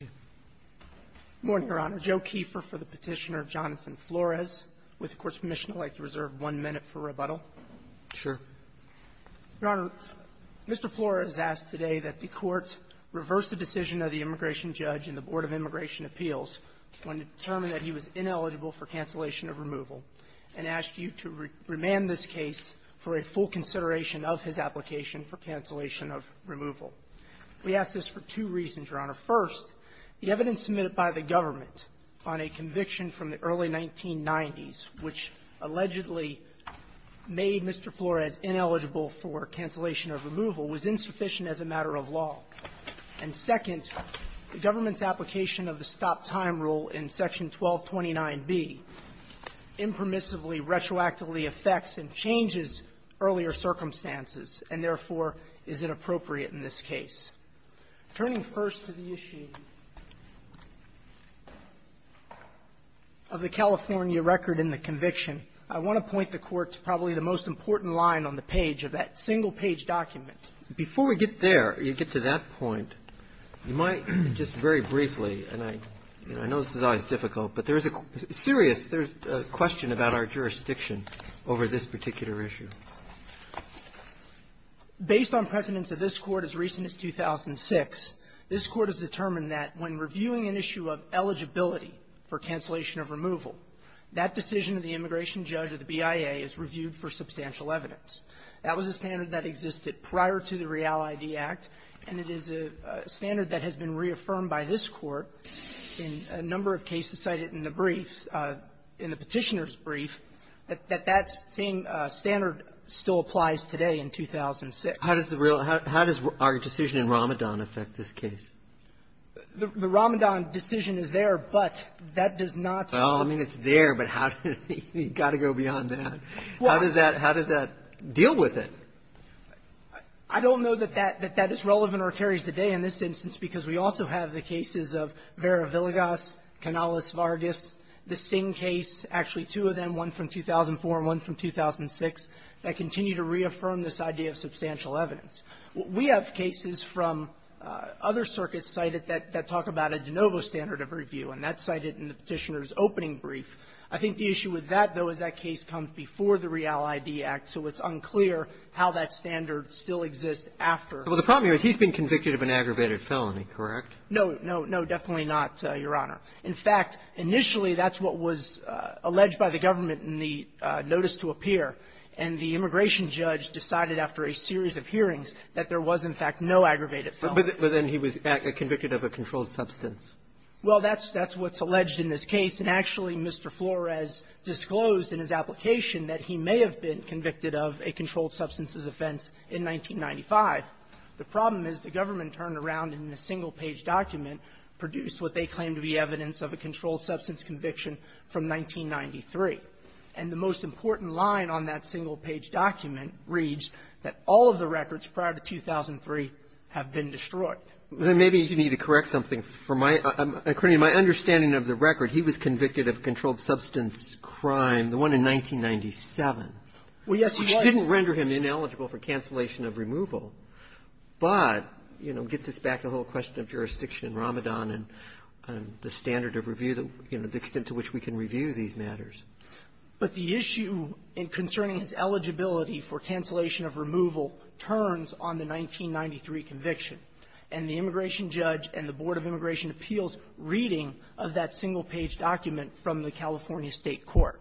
Good morning, Your Honor. Joe Keefer for the Petitioner. Jonathan Flores with the Court's Commission. I'd like to reserve one minute for rebuttal. Sure. Your Honor, Mr. Flores asked today that the Court reverse the decision of the immigration judge and the Board of Immigration Appeals when it determined that he was ineligible for cancellation of removal, and asked you to remand this case for a full consideration of his application for cancellation of removal. We asked this for two reasons, Your Honor. First, the evidence submitted by the government on a conviction from the early 1990s, which allegedly made Mr. Flores ineligible for cancellation of removal, was insufficient as a matter of law. And second, the government's application of the stop-time rule in Section 1229b impermissibly, retroactively affects and changes earlier circumstances, and therefore is inappropriate in this case. Turning first to the issue of the California record in the conviction, I want to point the Court to probably the most important line on the page of that single-page document. Before we get there, you get to that point, you might just very briefly, and I know this is always difficult, but there is a serious question about our jurisdiction over this particular issue. Based on precedents of this Court as recent as 2006, this Court has determined that when reviewing an issue of eligibility for cancellation of removal, that decision of the immigration judge or the BIA is reviewed for substantial evidence. That was a standard that existed prior to the Real ID Act, and it is a standard that has been reaffirmed by this Court in a number of cases cited in the brief, in the Petitioner's brief, that that same standard still applies today in 2006. How does the Real ID Act, how does our decision in Ramadan affect this case? The Ramadan decision is there, but that does not say that. Well, I mean, it's there, but how does it go beyond that? How does that deal with it? I don't know that that is relevant or carries the day in this instance, because we also have the cases of Vera Villegas, Canales-Vargas, the Singh case. Actually, two of them, one from 2004 and one from 2006, that continue to reaffirm this idea of substantial evidence. We have cases from other circuits cited that talk about a de novo standard of review, and that's cited in the Petitioner's opening brief. I think the issue with that, though, is that case comes before the Real ID Act, so it's unclear how that standard still exists after. Well, the problem here is he's been convicted of an aggravated felony, correct? No, no, no, definitely not, Your Honor. In fact, initially, that's what was alleged by the government in the notice to appear. And the immigration judge decided after a series of hearings that there was, in fact, no aggravated felony. But then he was convicted of a controlled substance. Well, that's what's alleged in this case. And actually, Mr. Flores disclosed in his application that he may have been convicted of a controlled substances offense in 1995. The problem is the government turned around in a single-page document, produced what they claim to be evidence of a controlled substance conviction from 1993. And the most important line on that single-page document reads that all of the records prior to 2003 have been destroyed. Then maybe you need to correct something for my – according to my understanding of the record, he was convicted of controlled substance crime, the one in 1997. Well, yes, he was. Which didn't render him ineligible for cancellation of removal. But, you know, gets us back to the whole question of jurisdiction, Ramadan, and the standard of review, you know, the extent to which we can review these matters. But the issue concerning his eligibility for cancellation of removal turns on the 1993 conviction. And the immigration judge and the Board of Immigration Appeals' reading of that single-page document from the California State court.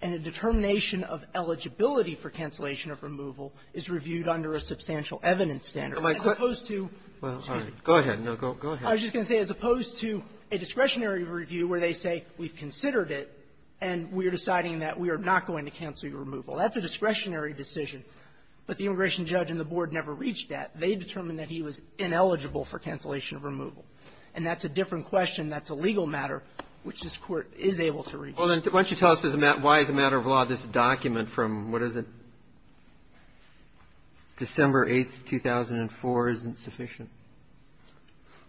And the determination of eligibility for cancellation of removal is reviewed under a substantial evidence standard. As opposed to — Well, all right. Go ahead. No, go ahead. I was just going to say, as opposed to a discretionary review where they say, we've considered it, and we're deciding that we are not going to cancel your removal. That's a discretionary decision. But the immigration judge and the Board never reached that. They determined that he was ineligible for cancellation of removal. And that's a different question. That's a legal matter, which this Court is able to review. Why don't you tell us why, as a matter of law, this document from, what is it, December 8th, 2004, isn't sufficient?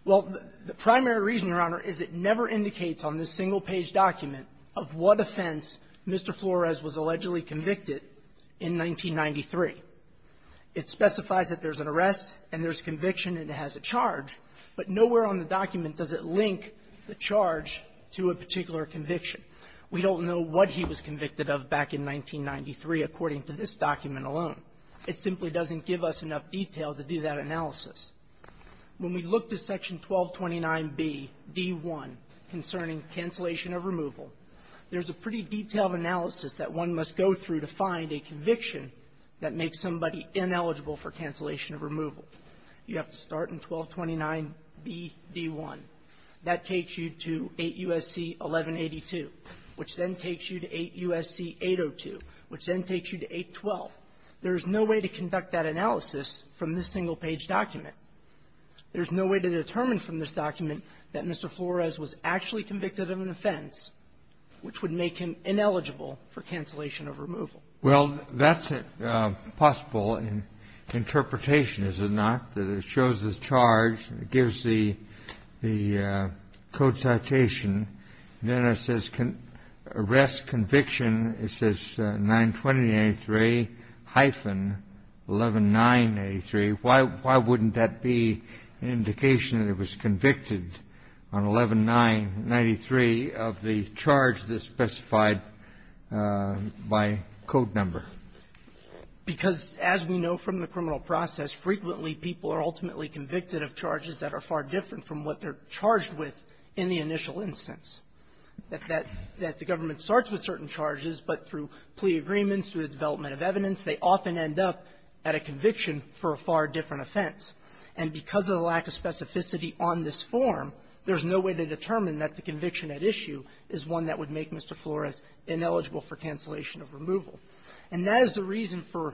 Well, the primary reason, Your Honor, is it never indicates on this single-page document of what offense Mr. Flores was allegedly convicted in 1993. It specifies that there's an arrest, and there's conviction, and it has a charge. But nowhere on the document does it link the charge to a particular conviction. We don't know what he was convicted of back in 1993, according to this document alone. It simply doesn't give us enough detail to do that analysis. When we look to Section 1229bd1 concerning cancellation of removal, there's a pretty detailed analysis that one must go through to find a conviction that makes somebody ineligible for cancellation of removal. You have to start in 1229bd1. That takes you to 8 U.S.C. 1182, which then takes you to 8 U.S.C. 802, which then takes you to 812. There's no way to conduct that analysis from this single-page document. There's no way to determine from this document that Mr. Flores was actually convicted of an offense which would make him ineligible for cancellation of removal. Well, that's possible in interpretation, is it not, that it shows this charge, gives the code citation, and then it says arrest conviction. It says 92093-11983. Why wouldn't that be an indication that he was convicted on 1193 of the charge that's specified by code number? Because, as we know from the criminal process, frequently people are ultimately convicted of charges that are far different from what they're charged with in the initial instance, that that the government starts with certain charges, but through plea agreements, through the development of evidence, they often end up at a conviction for a far different offense. And because of the lack of specificity on this form, there's no way to determine that the conviction at issue is one that would make Mr. Flores ineligible for cancellation of removal. And that is the reason for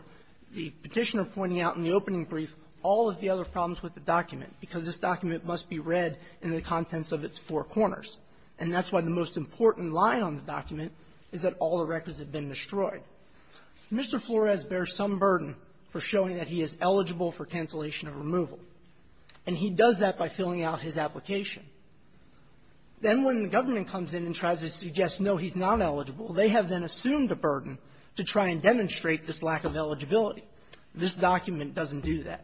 the Petitioner pointing out in the opening brief all of the other problems with the document, because this document must be read in the contents of its four corners. And that's why the most important line on the document is that all the records have been destroyed. Mr. Flores bears some burden for showing that he is eligible for cancellation of removal. And he does that by filling out his application. Then when the government comes in and tries to suggest, no, he's not eligible, they have then assumed a burden to try and demonstrate this lack of eligibility. This document doesn't do that.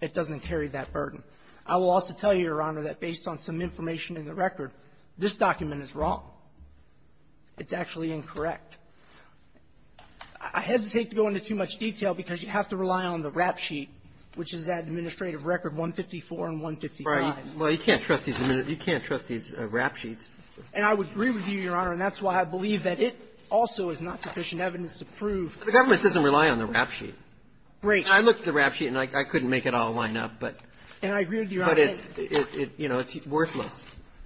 It doesn't carry that burden. I will also tell you, Your Honor, that based on some information in the record, this document is wrong. It's actually incorrect. I hesitate to go into too much detail because you have to rely on the rap sheet, which is that administrative record 154 and 155. Roberts, you can't trust these rap sheets. And I would agree with you, Your Honor. And that's why I believe that it also is not sufficient evidence to prove that the rap sheet. Great. I looked at the rap sheet, and I couldn't make it all line up, but it's, you know, it's worthless.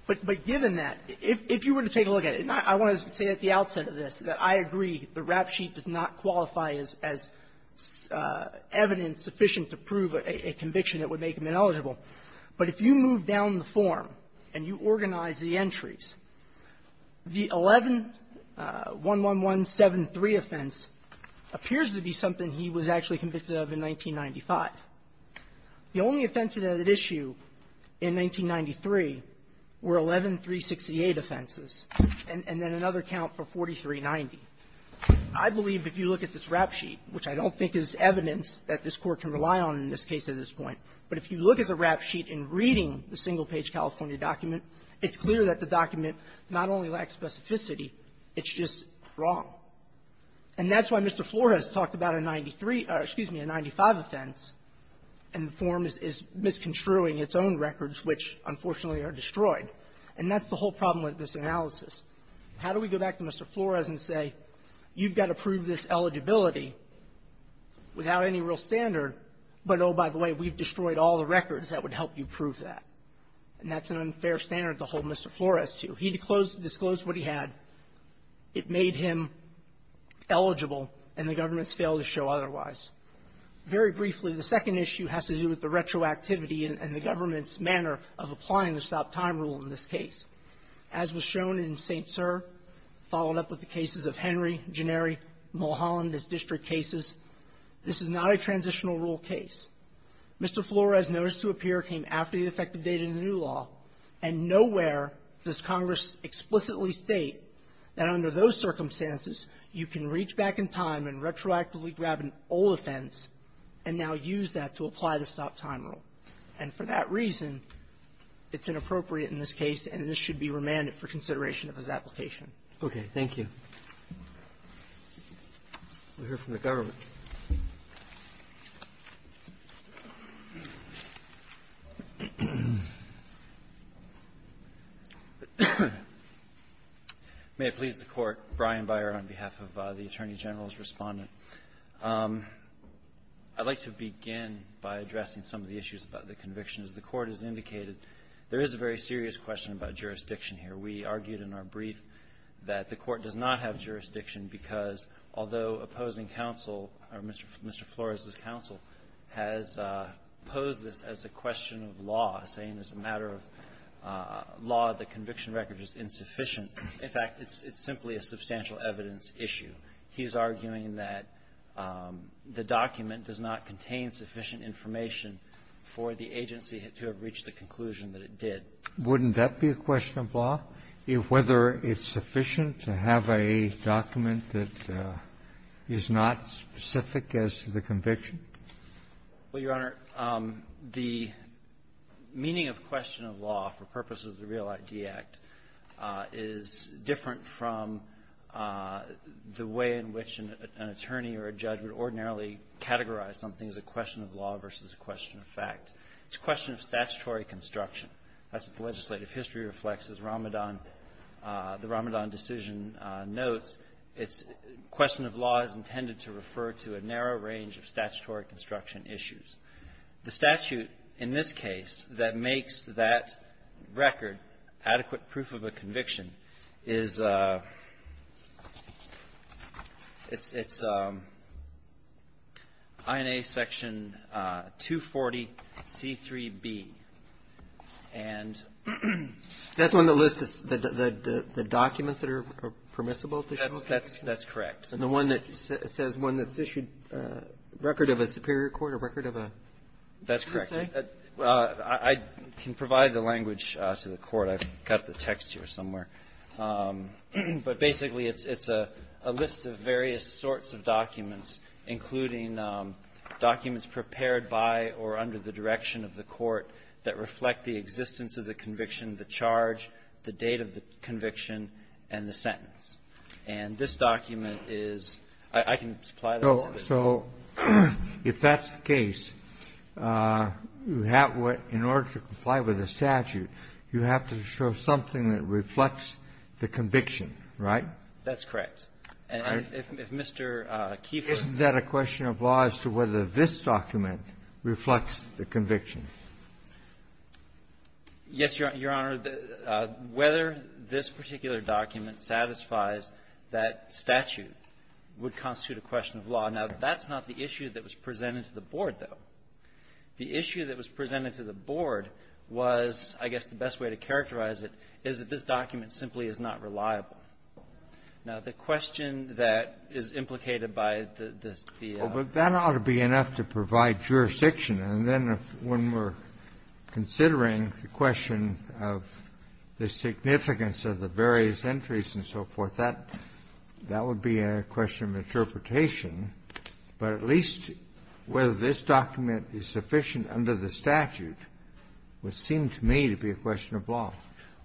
But given that, if you were to take a look at it, and I want to say at the outset of this that I agree the rap sheet does not qualify as evidence sufficient to prove a conviction that would make him ineligible. But if you move down the form and you organize the entries, the 11-11173 offense appears to be something he was actually convicted of in 1995. The only offenses at issue in 1993 were 11-368 offenses, and then another count for 4390. I believe if you look at this rap sheet, which I don't think is evidence that this Court can rely on in this case at this point, but if you look at the rap sheet in reading the single-page California document, it's clear that the document not only lacks specificity, it's just wrong. And that's why Mr. Flores talked about a 93 or, excuse me, a 95 offense, and the form is misconstruing its own records, which, unfortunately, are destroyed. And that's the whole problem with this analysis. How do we go back to Mr. Flores and say, you've got to prove this eligibility without any real standard, but, oh, by the way, we've destroyed all the records that would help you prove that? And that's an unfair standard to hold Mr. Flores to. He disclosed what he had. It made him eligible, and the government's failed to show otherwise. Very briefly, the second issue has to do with the retroactivity and the government's manner of applying the stop-time rule in this case. As was shown in St. Cyr, followed up with the cases of Henry, Janeri, Mulholland, as district cases, this is not a transitional rule case. Mr. Flores' notice to appear came after the effective date in the new law, and nowhere does Congress explicitly state that under those circumstances you can reach back in time and retroactively grab an old offense and now use that to apply the stop-time rule. And for that reason, it's inappropriate in this case, and this should be remanded for consideration of his application. Okay. Thank you. We'll hear from the government. May it please the Court. Brian Byer on behalf of the Attorney General's Respondent. I'd like to begin by addressing some of the issues about the convictions. The Court has indicated there is a very serious question about jurisdiction here. We argued in our brief that the Court does not have jurisdiction because, although opposing counsel, or Mr. Flores' counsel, has posed this as a question of law, saying it's a matter of law, the conviction record is insufficient. In fact, it's simply a substantial evidence issue. He's arguing that the document does not contain sufficient information for the agency to have reached the conclusion that it did. Wouldn't that be a question of law, whether it's sufficient to have a document that is not specific as to the conviction? Well, Your Honor, the meaning of question of law for purposes of the Real ID Act is different from the way in which an attorney or a judge would ordinarily categorize something as a question of law versus a question of fact. It's a question of statutory construction. That's what the legislative history reflects. As Ramadan, the Ramadan decision notes, it's a question of law is intended to refer to a narrow range of statutory construction issues. The statute, in this case, that makes that record adequate proof of a conviction is, it's, it's INA section 240C3B. And the one that lists the documents that are permissible. That's correct. And the one that says one that's issued a record of a superior court, a record of a? That's correct. I can provide the language to the Court. I've got the text here somewhere. But basically, it's a list of various sorts of documents, including documents prepared by or under the direction of the court that reflect the existence of the conviction, the charge, the date of the conviction, and the sentence. And this document is – I can supply that to the Court. So if that's the case, you have what, in order to comply with the statute, you have to show something that reflects the conviction, right? That's correct. And if Mr. Kieffer – Isn't that a question of law as to whether this document reflects the conviction? Yes, Your Honor. Whether this particular document satisfies that statute would constitute a question of law. Now, that's not the issue that was presented to the Board, though. The issue that was presented to the Board was, I guess, the best way to characterize it is that this document simply is not reliable. Now, the question that is implicated by the – the – Well, but that ought to be enough to provide jurisdiction. And then when we're considering the question of the significance of the various entries and so forth, that – that would be a question of interpretation. But at least whether this document is sufficient under the statute would seem to me to be a question of law.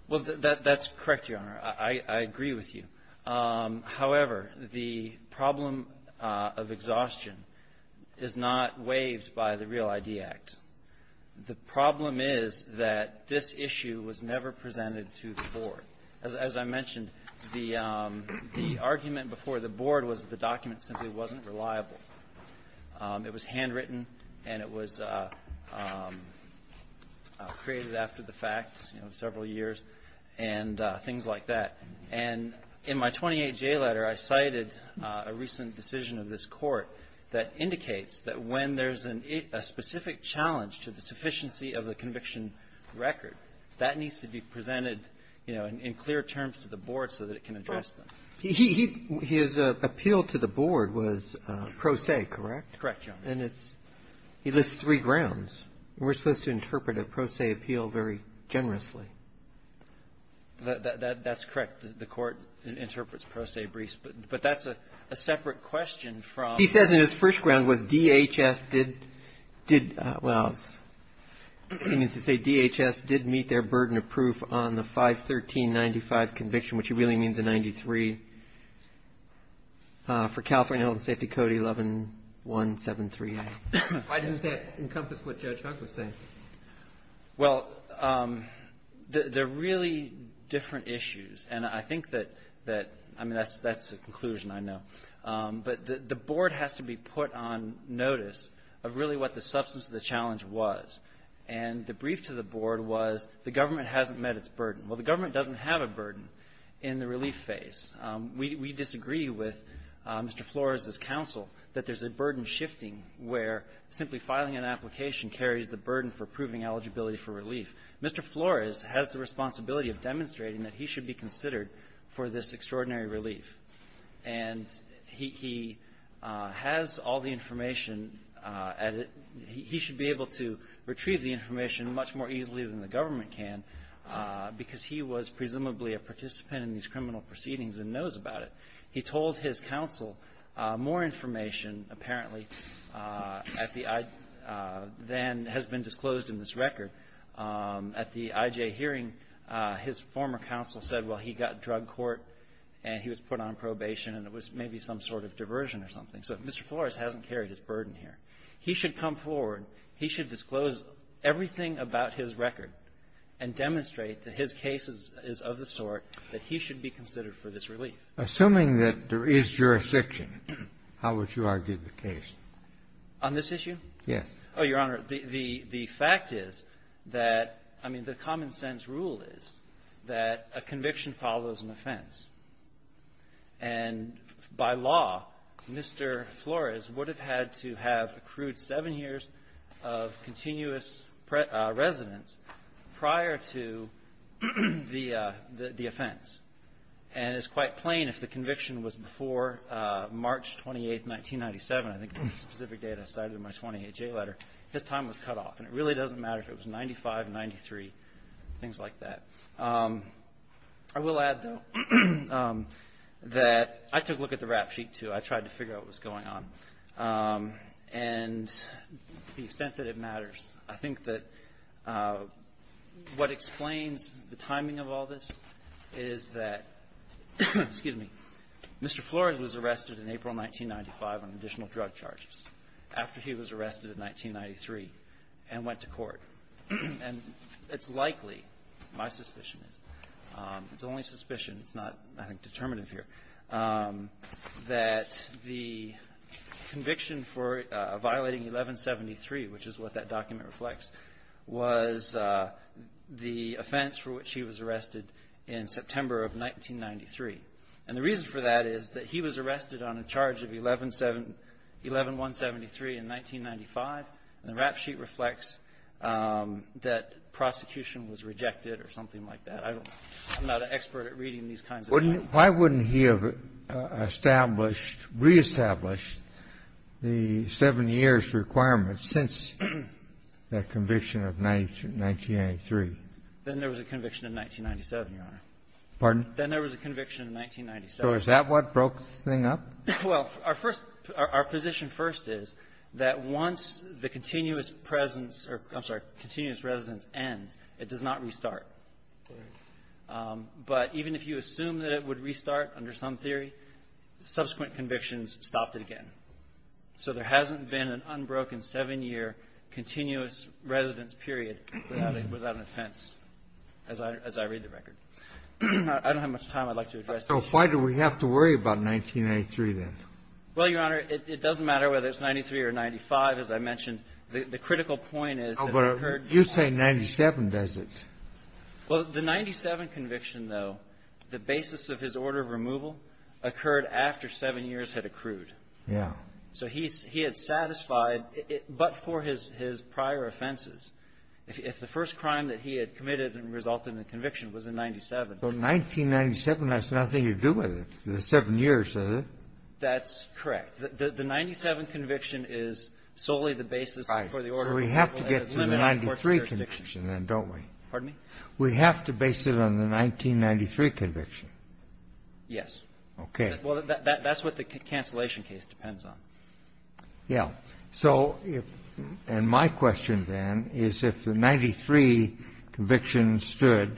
Well, that's correct, Your Honor. I agree with you. However, the problem of exhaustion is not waived by the Real ID Act. The problem is that this issue was never presented to the Board. As I mentioned, the argument before the Board was the document simply wasn't reliable. It was handwritten, and it was created after the fact, you know, several years, and things like that. And in my 28J letter, I cited a recent decision of this Court that indicates that when there's a specific challenge to the sufficiency of the conviction record, that needs to be presented, you know, in clear terms to the Board so that it can address them. His appeal to the Board was pro se, correct? Correct, Your Honor. And it's – he lists three grounds. We're supposed to interpret a pro se appeal very generously. That's correct. The Court interprets pro se briefs. But that's a separate question from the other. He says in his first ground was DHS did – well, he seems to say DHS did meet their burden of proof on the 51395 conviction, which really means a 93, for California Health and Safety Code 11173A. Why doesn't that encompass what Judge Hunt was saying? Well, they're really different issues. And I think that – I mean, that's the conclusion, I know. But the Board has to be put on notice of really what the substance of the challenge was. And the brief to the Board was the government hasn't met its burden. Well, the government doesn't have a burden in the relief phase. We disagree with Mr. Flores' counsel that there's a burden shifting where simply filing an application carries the burden for proving eligibility for relief. Mr. Flores has the responsibility of demonstrating that he should be considered for this extraordinary relief. And he has all the information, and he should be able to retrieve the information much more easily than the government can because he was presumably a participant in these criminal proceedings and knows about it. He told his counsel more information, apparently, at the – than has been disclosed in this record. At the IJ hearing, his former counsel said, well, he got drug court and he was put on probation and it was maybe some sort of diversion or something. So Mr. Flores hasn't carried his burden here. He should come forward. He should disclose everything about his record and demonstrate that his case is of the And assuming that there is jurisdiction, how would you argue the case? On this issue? Yes. Oh, Your Honor, the fact is that – I mean, the common-sense rule is that a conviction follows an offense. And by law, Mr. Flores would have had to have accrued seven years of continuous residence prior to the offense. And it's quite plain if the conviction was before March 28, 1997, I think the specific data cited in my 20HA letter, his time was cut off. And it really doesn't matter if it was 95, 93, things like that. I will add, though, that I took a look at the rap sheet, too. I tried to figure out what was going on. And to the extent that it matters, I think that what explains the timing of all this is that – excuse me – Mr. Flores was arrested in April 1995 on additional drug charges after he was arrested in 1993 and went to court. And it's likely, my suspicion is – it's the only suspicion, it's not, I think, determinative here – that the conviction for violating 1173, which is what that in September of 1993. And the reason for that is that he was arrested on a charge of 11173 in 1995, and the rap sheet reflects that prosecution was rejected or something like that. I don't – I'm not an expert at reading these kinds of things. Kennedy. Why wouldn't he have established, reestablished the seven years requirement since that conviction of 1993? Then there was a conviction in 1997, Your Honor. Pardon? Then there was a conviction in 1997. So is that what broke the thing up? Well, our first – our position first is that once the continuous presence or – I'm sorry – continuous residence ends, it does not restart. Right. But even if you assume that it would restart under some theory, subsequent convictions stopped it again. So there hasn't been an unbroken seven-year continuous residence period without an offense, as I read the record. I don't have much time. I'd like to address the issue. So why do we have to worry about 1993, then? Well, Your Honor, it doesn't matter whether it's 93 or 95. As I mentioned, the critical point is that it occurred – Oh, but you say 97, does it? Well, the 97 conviction, though, the basis of his order of removal occurred after seven years had accrued. Yeah. So he had satisfied – but for his prior offenses. If the first crime that he had committed and resulted in conviction was in 97. So 1997 has nothing to do with it. It's seven years, is it? That's correct. The 97 conviction is solely the basis for the order of removal. Right. So we have to get to the 93 conviction, then, don't we? Pardon me? We have to base it on the 1993 conviction. Yes. Okay. Well, that's what the cancellation case depends on. Yeah. So if – and my question, then, is if the 93 conviction stood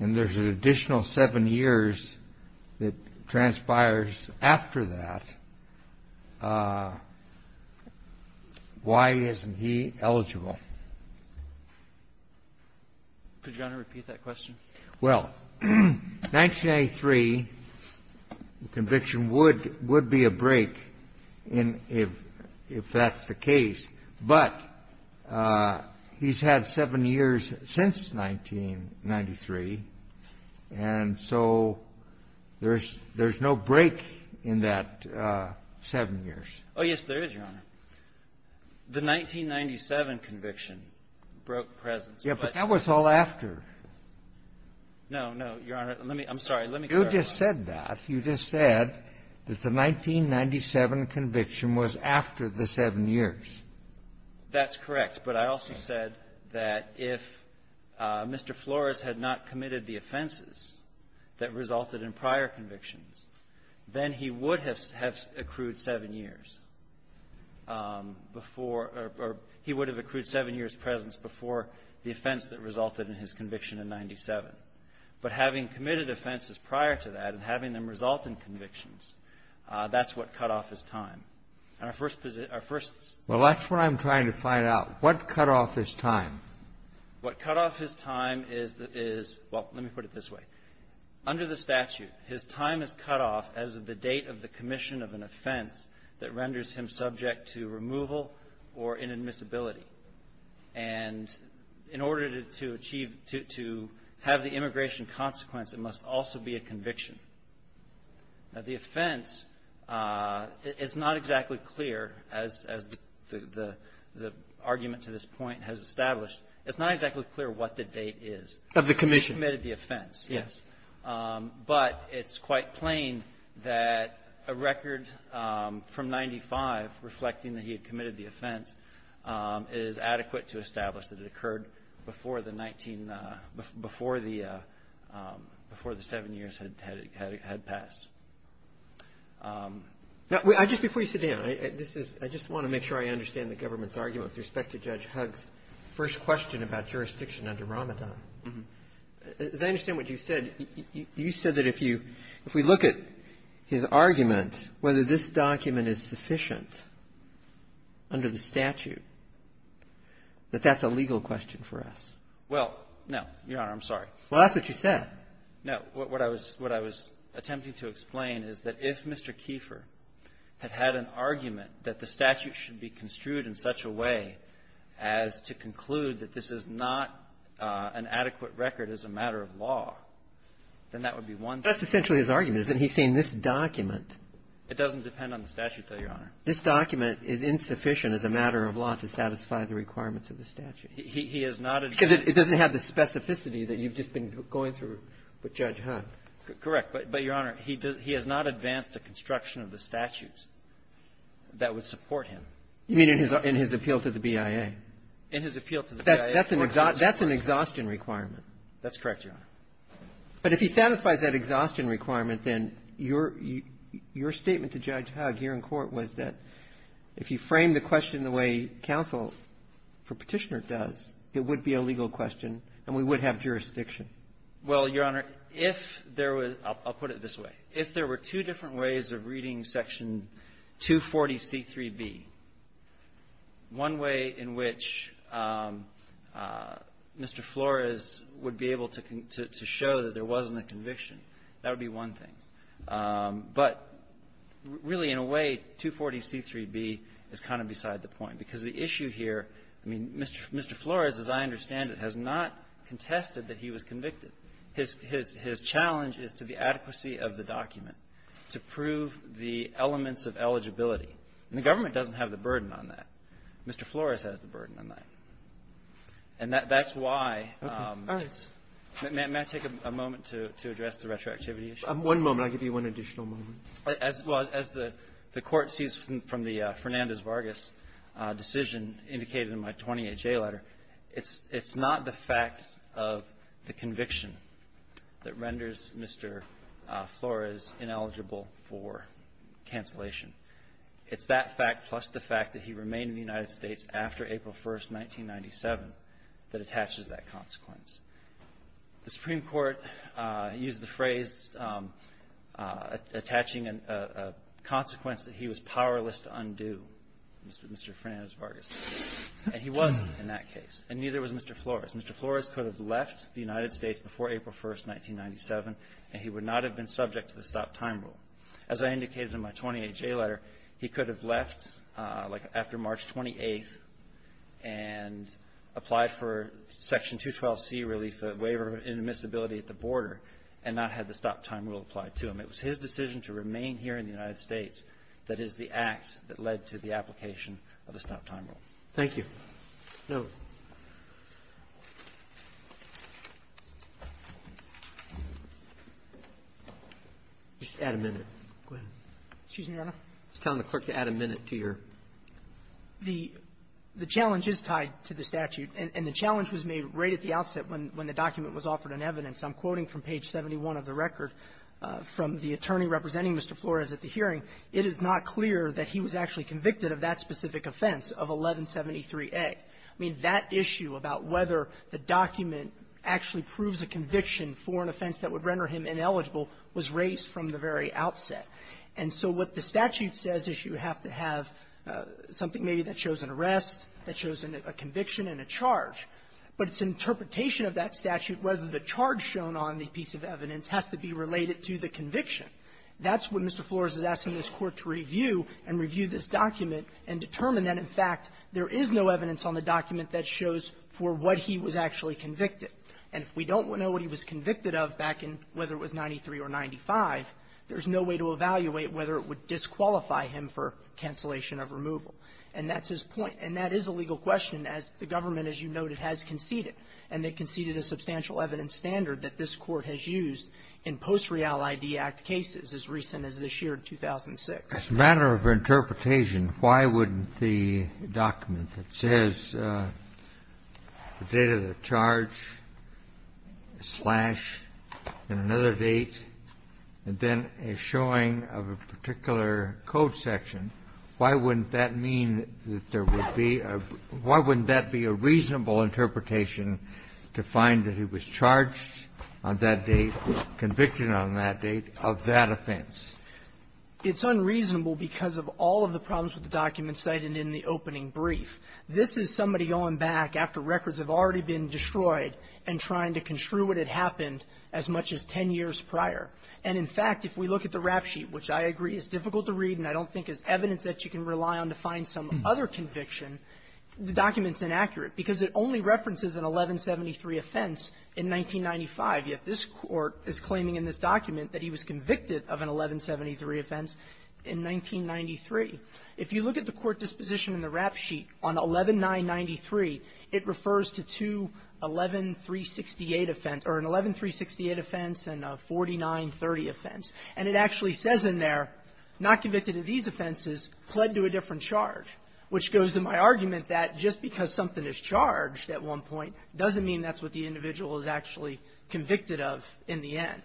and there's an additional seven years that transpires after that, why isn't he eligible? Could you, Your Honor, repeat that question? Well, 1993 conviction would be a break if that's the case. But he's had seven years since 1993. And so there's no break in that seven years. Oh, yes, there is, Your Honor. The 1997 conviction broke presence. Yeah, but that was all after. No, no, Your Honor. Let me – I'm sorry. Let me clarify. You just said that. You just said that the 1997 conviction was after the seven years. That's correct. But I also said that if Mr. Flores had not committed the offenses that resulted in prior convictions, then he would have accrued seven years before – or he would have accrued seven years' presence before the offense that resulted in his conviction in 97. But having committed offenses prior to that and having them result in convictions, that's what cut off his time. And our first – our first – Well, that's what I'm trying to find out. What cut off his time? What cut off his time is – well, let me put it this way. Under the statute, his time is cut off as of the date of the commission of an offense that renders him subject to removal or inadmissibility. And in order to achieve – to have the immigration consequence, it must also be a conviction. Now, the offense is not exactly clear, as the argument to this point has established. It's not exactly clear what the date is. Of the commission. He committed the offense. Yes. But it's quite plain that a record from 95, reflecting that he had committed the offense, is adequate to establish that it occurred before the 19 – before the – before the seven years had passed. Now, I just – before you sit down, I just want to make sure I understand the government's argument with respect to Judge Hugg's first question about jurisdiction under Ramadan. As I understand what you said, you said that if you – if we look at his argument, whether this document is sufficient under the statute, that that's a legal question for us. Well, no, Your Honor. I'm sorry. Well, that's what you said. No. What I was – what I was attempting to explain is that if Mr. Kiefer had had an argument that the statute should be construed in such a way as to conclude that this is not an adequate record as a matter of law, then that would be one thing. That's essentially his argument, is that he's saying this document – It doesn't depend on the statute, though, Your Honor. This document is insufficient as a matter of law to satisfy the requirements of the statute. He has not – Because it doesn't have the specificity that you've just been going through with Judge Hugg. Correct. But, Your Honor, he has not advanced a construction of the statutes that would support him. You mean in his appeal to the BIA? In his appeal to the BIA. That's an exhaustion requirement. That's correct, Your Honor. But if he satisfies that exhaustion requirement, then your statement to Judge Hugg here in court was that if you frame the question the way counsel for Petitioner does, it would be a legal question, and we would have jurisdiction. Well, Your Honor, if there was – I'll put it this way. If there were two different ways of reading Section 240C3B, one way in which Mr. Flores would be able to show that there wasn't a conviction, that would be one thing. But really, in a way, 240C3B is kind of beside the point, because the issue here – I mean, Mr. Flores, as I understand it, has not contested that he was convicted. His challenge is to the adequacy of the document, to prove the elements of eligibility. And the government doesn't have the burden on that. Mr. Flores has the burden on that. And that's why it's – may I take a moment to address the retroactivity issue? One moment. I'll give you one additional moment. As the Court sees from the Fernandez-Vargas decision indicated in my 20HA letter, it's not the fact of the conviction that renders Mr. Flores ineligible for cancellation. It's that fact, plus the fact that he remained in the United States after April 1st, 1997, that attaches that consequence. The Supreme Court used the phrase attaching a consequence that he was powerless to undo, Mr. Fernandez-Vargas. And he wasn't in that case. And neither was Mr. Flores. Mr. Flores could have left the United States before April 1st, 1997, and he would not have been subject to the stop-time rule. As I indicated in my 20HA letter, he could have left, like, after March 28th and applied for Section 212C relief, the waiver of inadmissibility at the border, and not had the stop-time rule applied to him. It was his decision to remain here in the United States that is the act that led to the application of the stop-time rule. Thank you. No. Just add a minute. Go ahead. Excuse me, Your Honor. I was telling the clerk to add a minute to your ---- The challenge is tied to the statute. And the challenge was made right at the outset when the document was offered in evidence. I'm quoting from page 71 of the record from the attorney representing Mr. Flores at the hearing. It is not clear that he was actually convicted of that specific offense of 1173A. I mean, that issue about whether the document actually proves a conviction for an offense that would render him ineligible was raised from the very outset. And so what the statute says is you have to have something maybe that shows an arrest, that shows a conviction and a charge. But its interpretation of that statute, whether the charge shown on the piece of evidence has to be related to the conviction, that's what Mr. Flores is asking this Court to review and review this document and determine that, in fact, there is no evidence on the document that shows for what he was actually convicted. And if we don't know what he was convicted of back in whether it was 93 or 95, there's no way to evaluate whether it would disqualify him for cancellation of removal. And that's his point. And that is a legal question as the government, as you noted, has conceded. And they conceded a substantial evidence standard that this Court has used in post-Riale ID Act cases as recent as this year, 2006. As a matter of interpretation, why wouldn't the document that says the date of the charge, a slash, and another date, and then a showing of a particular code section, why wouldn't that mean that there would be a – why wouldn't that be a reasonable interpretation to find that he was charged on that date, convicted on that date of that offense? It's unreasonable because of all of the problems with the documents cited in the opening brief. This is somebody going back after records have already been destroyed and trying to construe what had happened as much as 10 years prior. And, in fact, if we look at the rap sheet, which I agree is difficult to read and I don't think is evidence that you can rely on to find some other conviction, the document's inaccurate because it only references an 1173 offense in 1995. Yet this Court is claiming in this document that he was convicted of an 1173 offense in 1993. If you look at the Court disposition in the rap sheet on 11993, it refers to two 11368 offense – or an 11368 offense and a 4930 offense. And it actually says in there, not convicted of these offenses, pled to a different charge, which goes to my argument that just because something is charged at one point doesn't mean that's what the individual is actually convicted of in the end.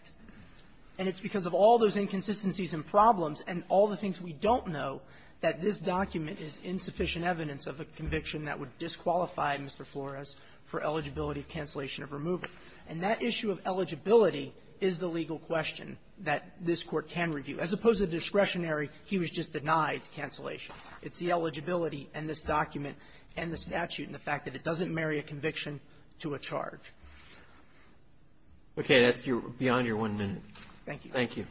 And it's because of all those inconsistencies and problems and all the things we don't know that this document is insufficient evidence of a conviction that would disqualify Mr. Flores for eligibility of cancellation of removal. And that issue of eligibility is the legal question that this Court can review. As opposed to discretionary, he was just denied cancellation. It's the eligibility and this document and the statute and the fact that it doesn't marry a conviction to a charge. Okay. That's beyond your one minute. Thank you. Thank you.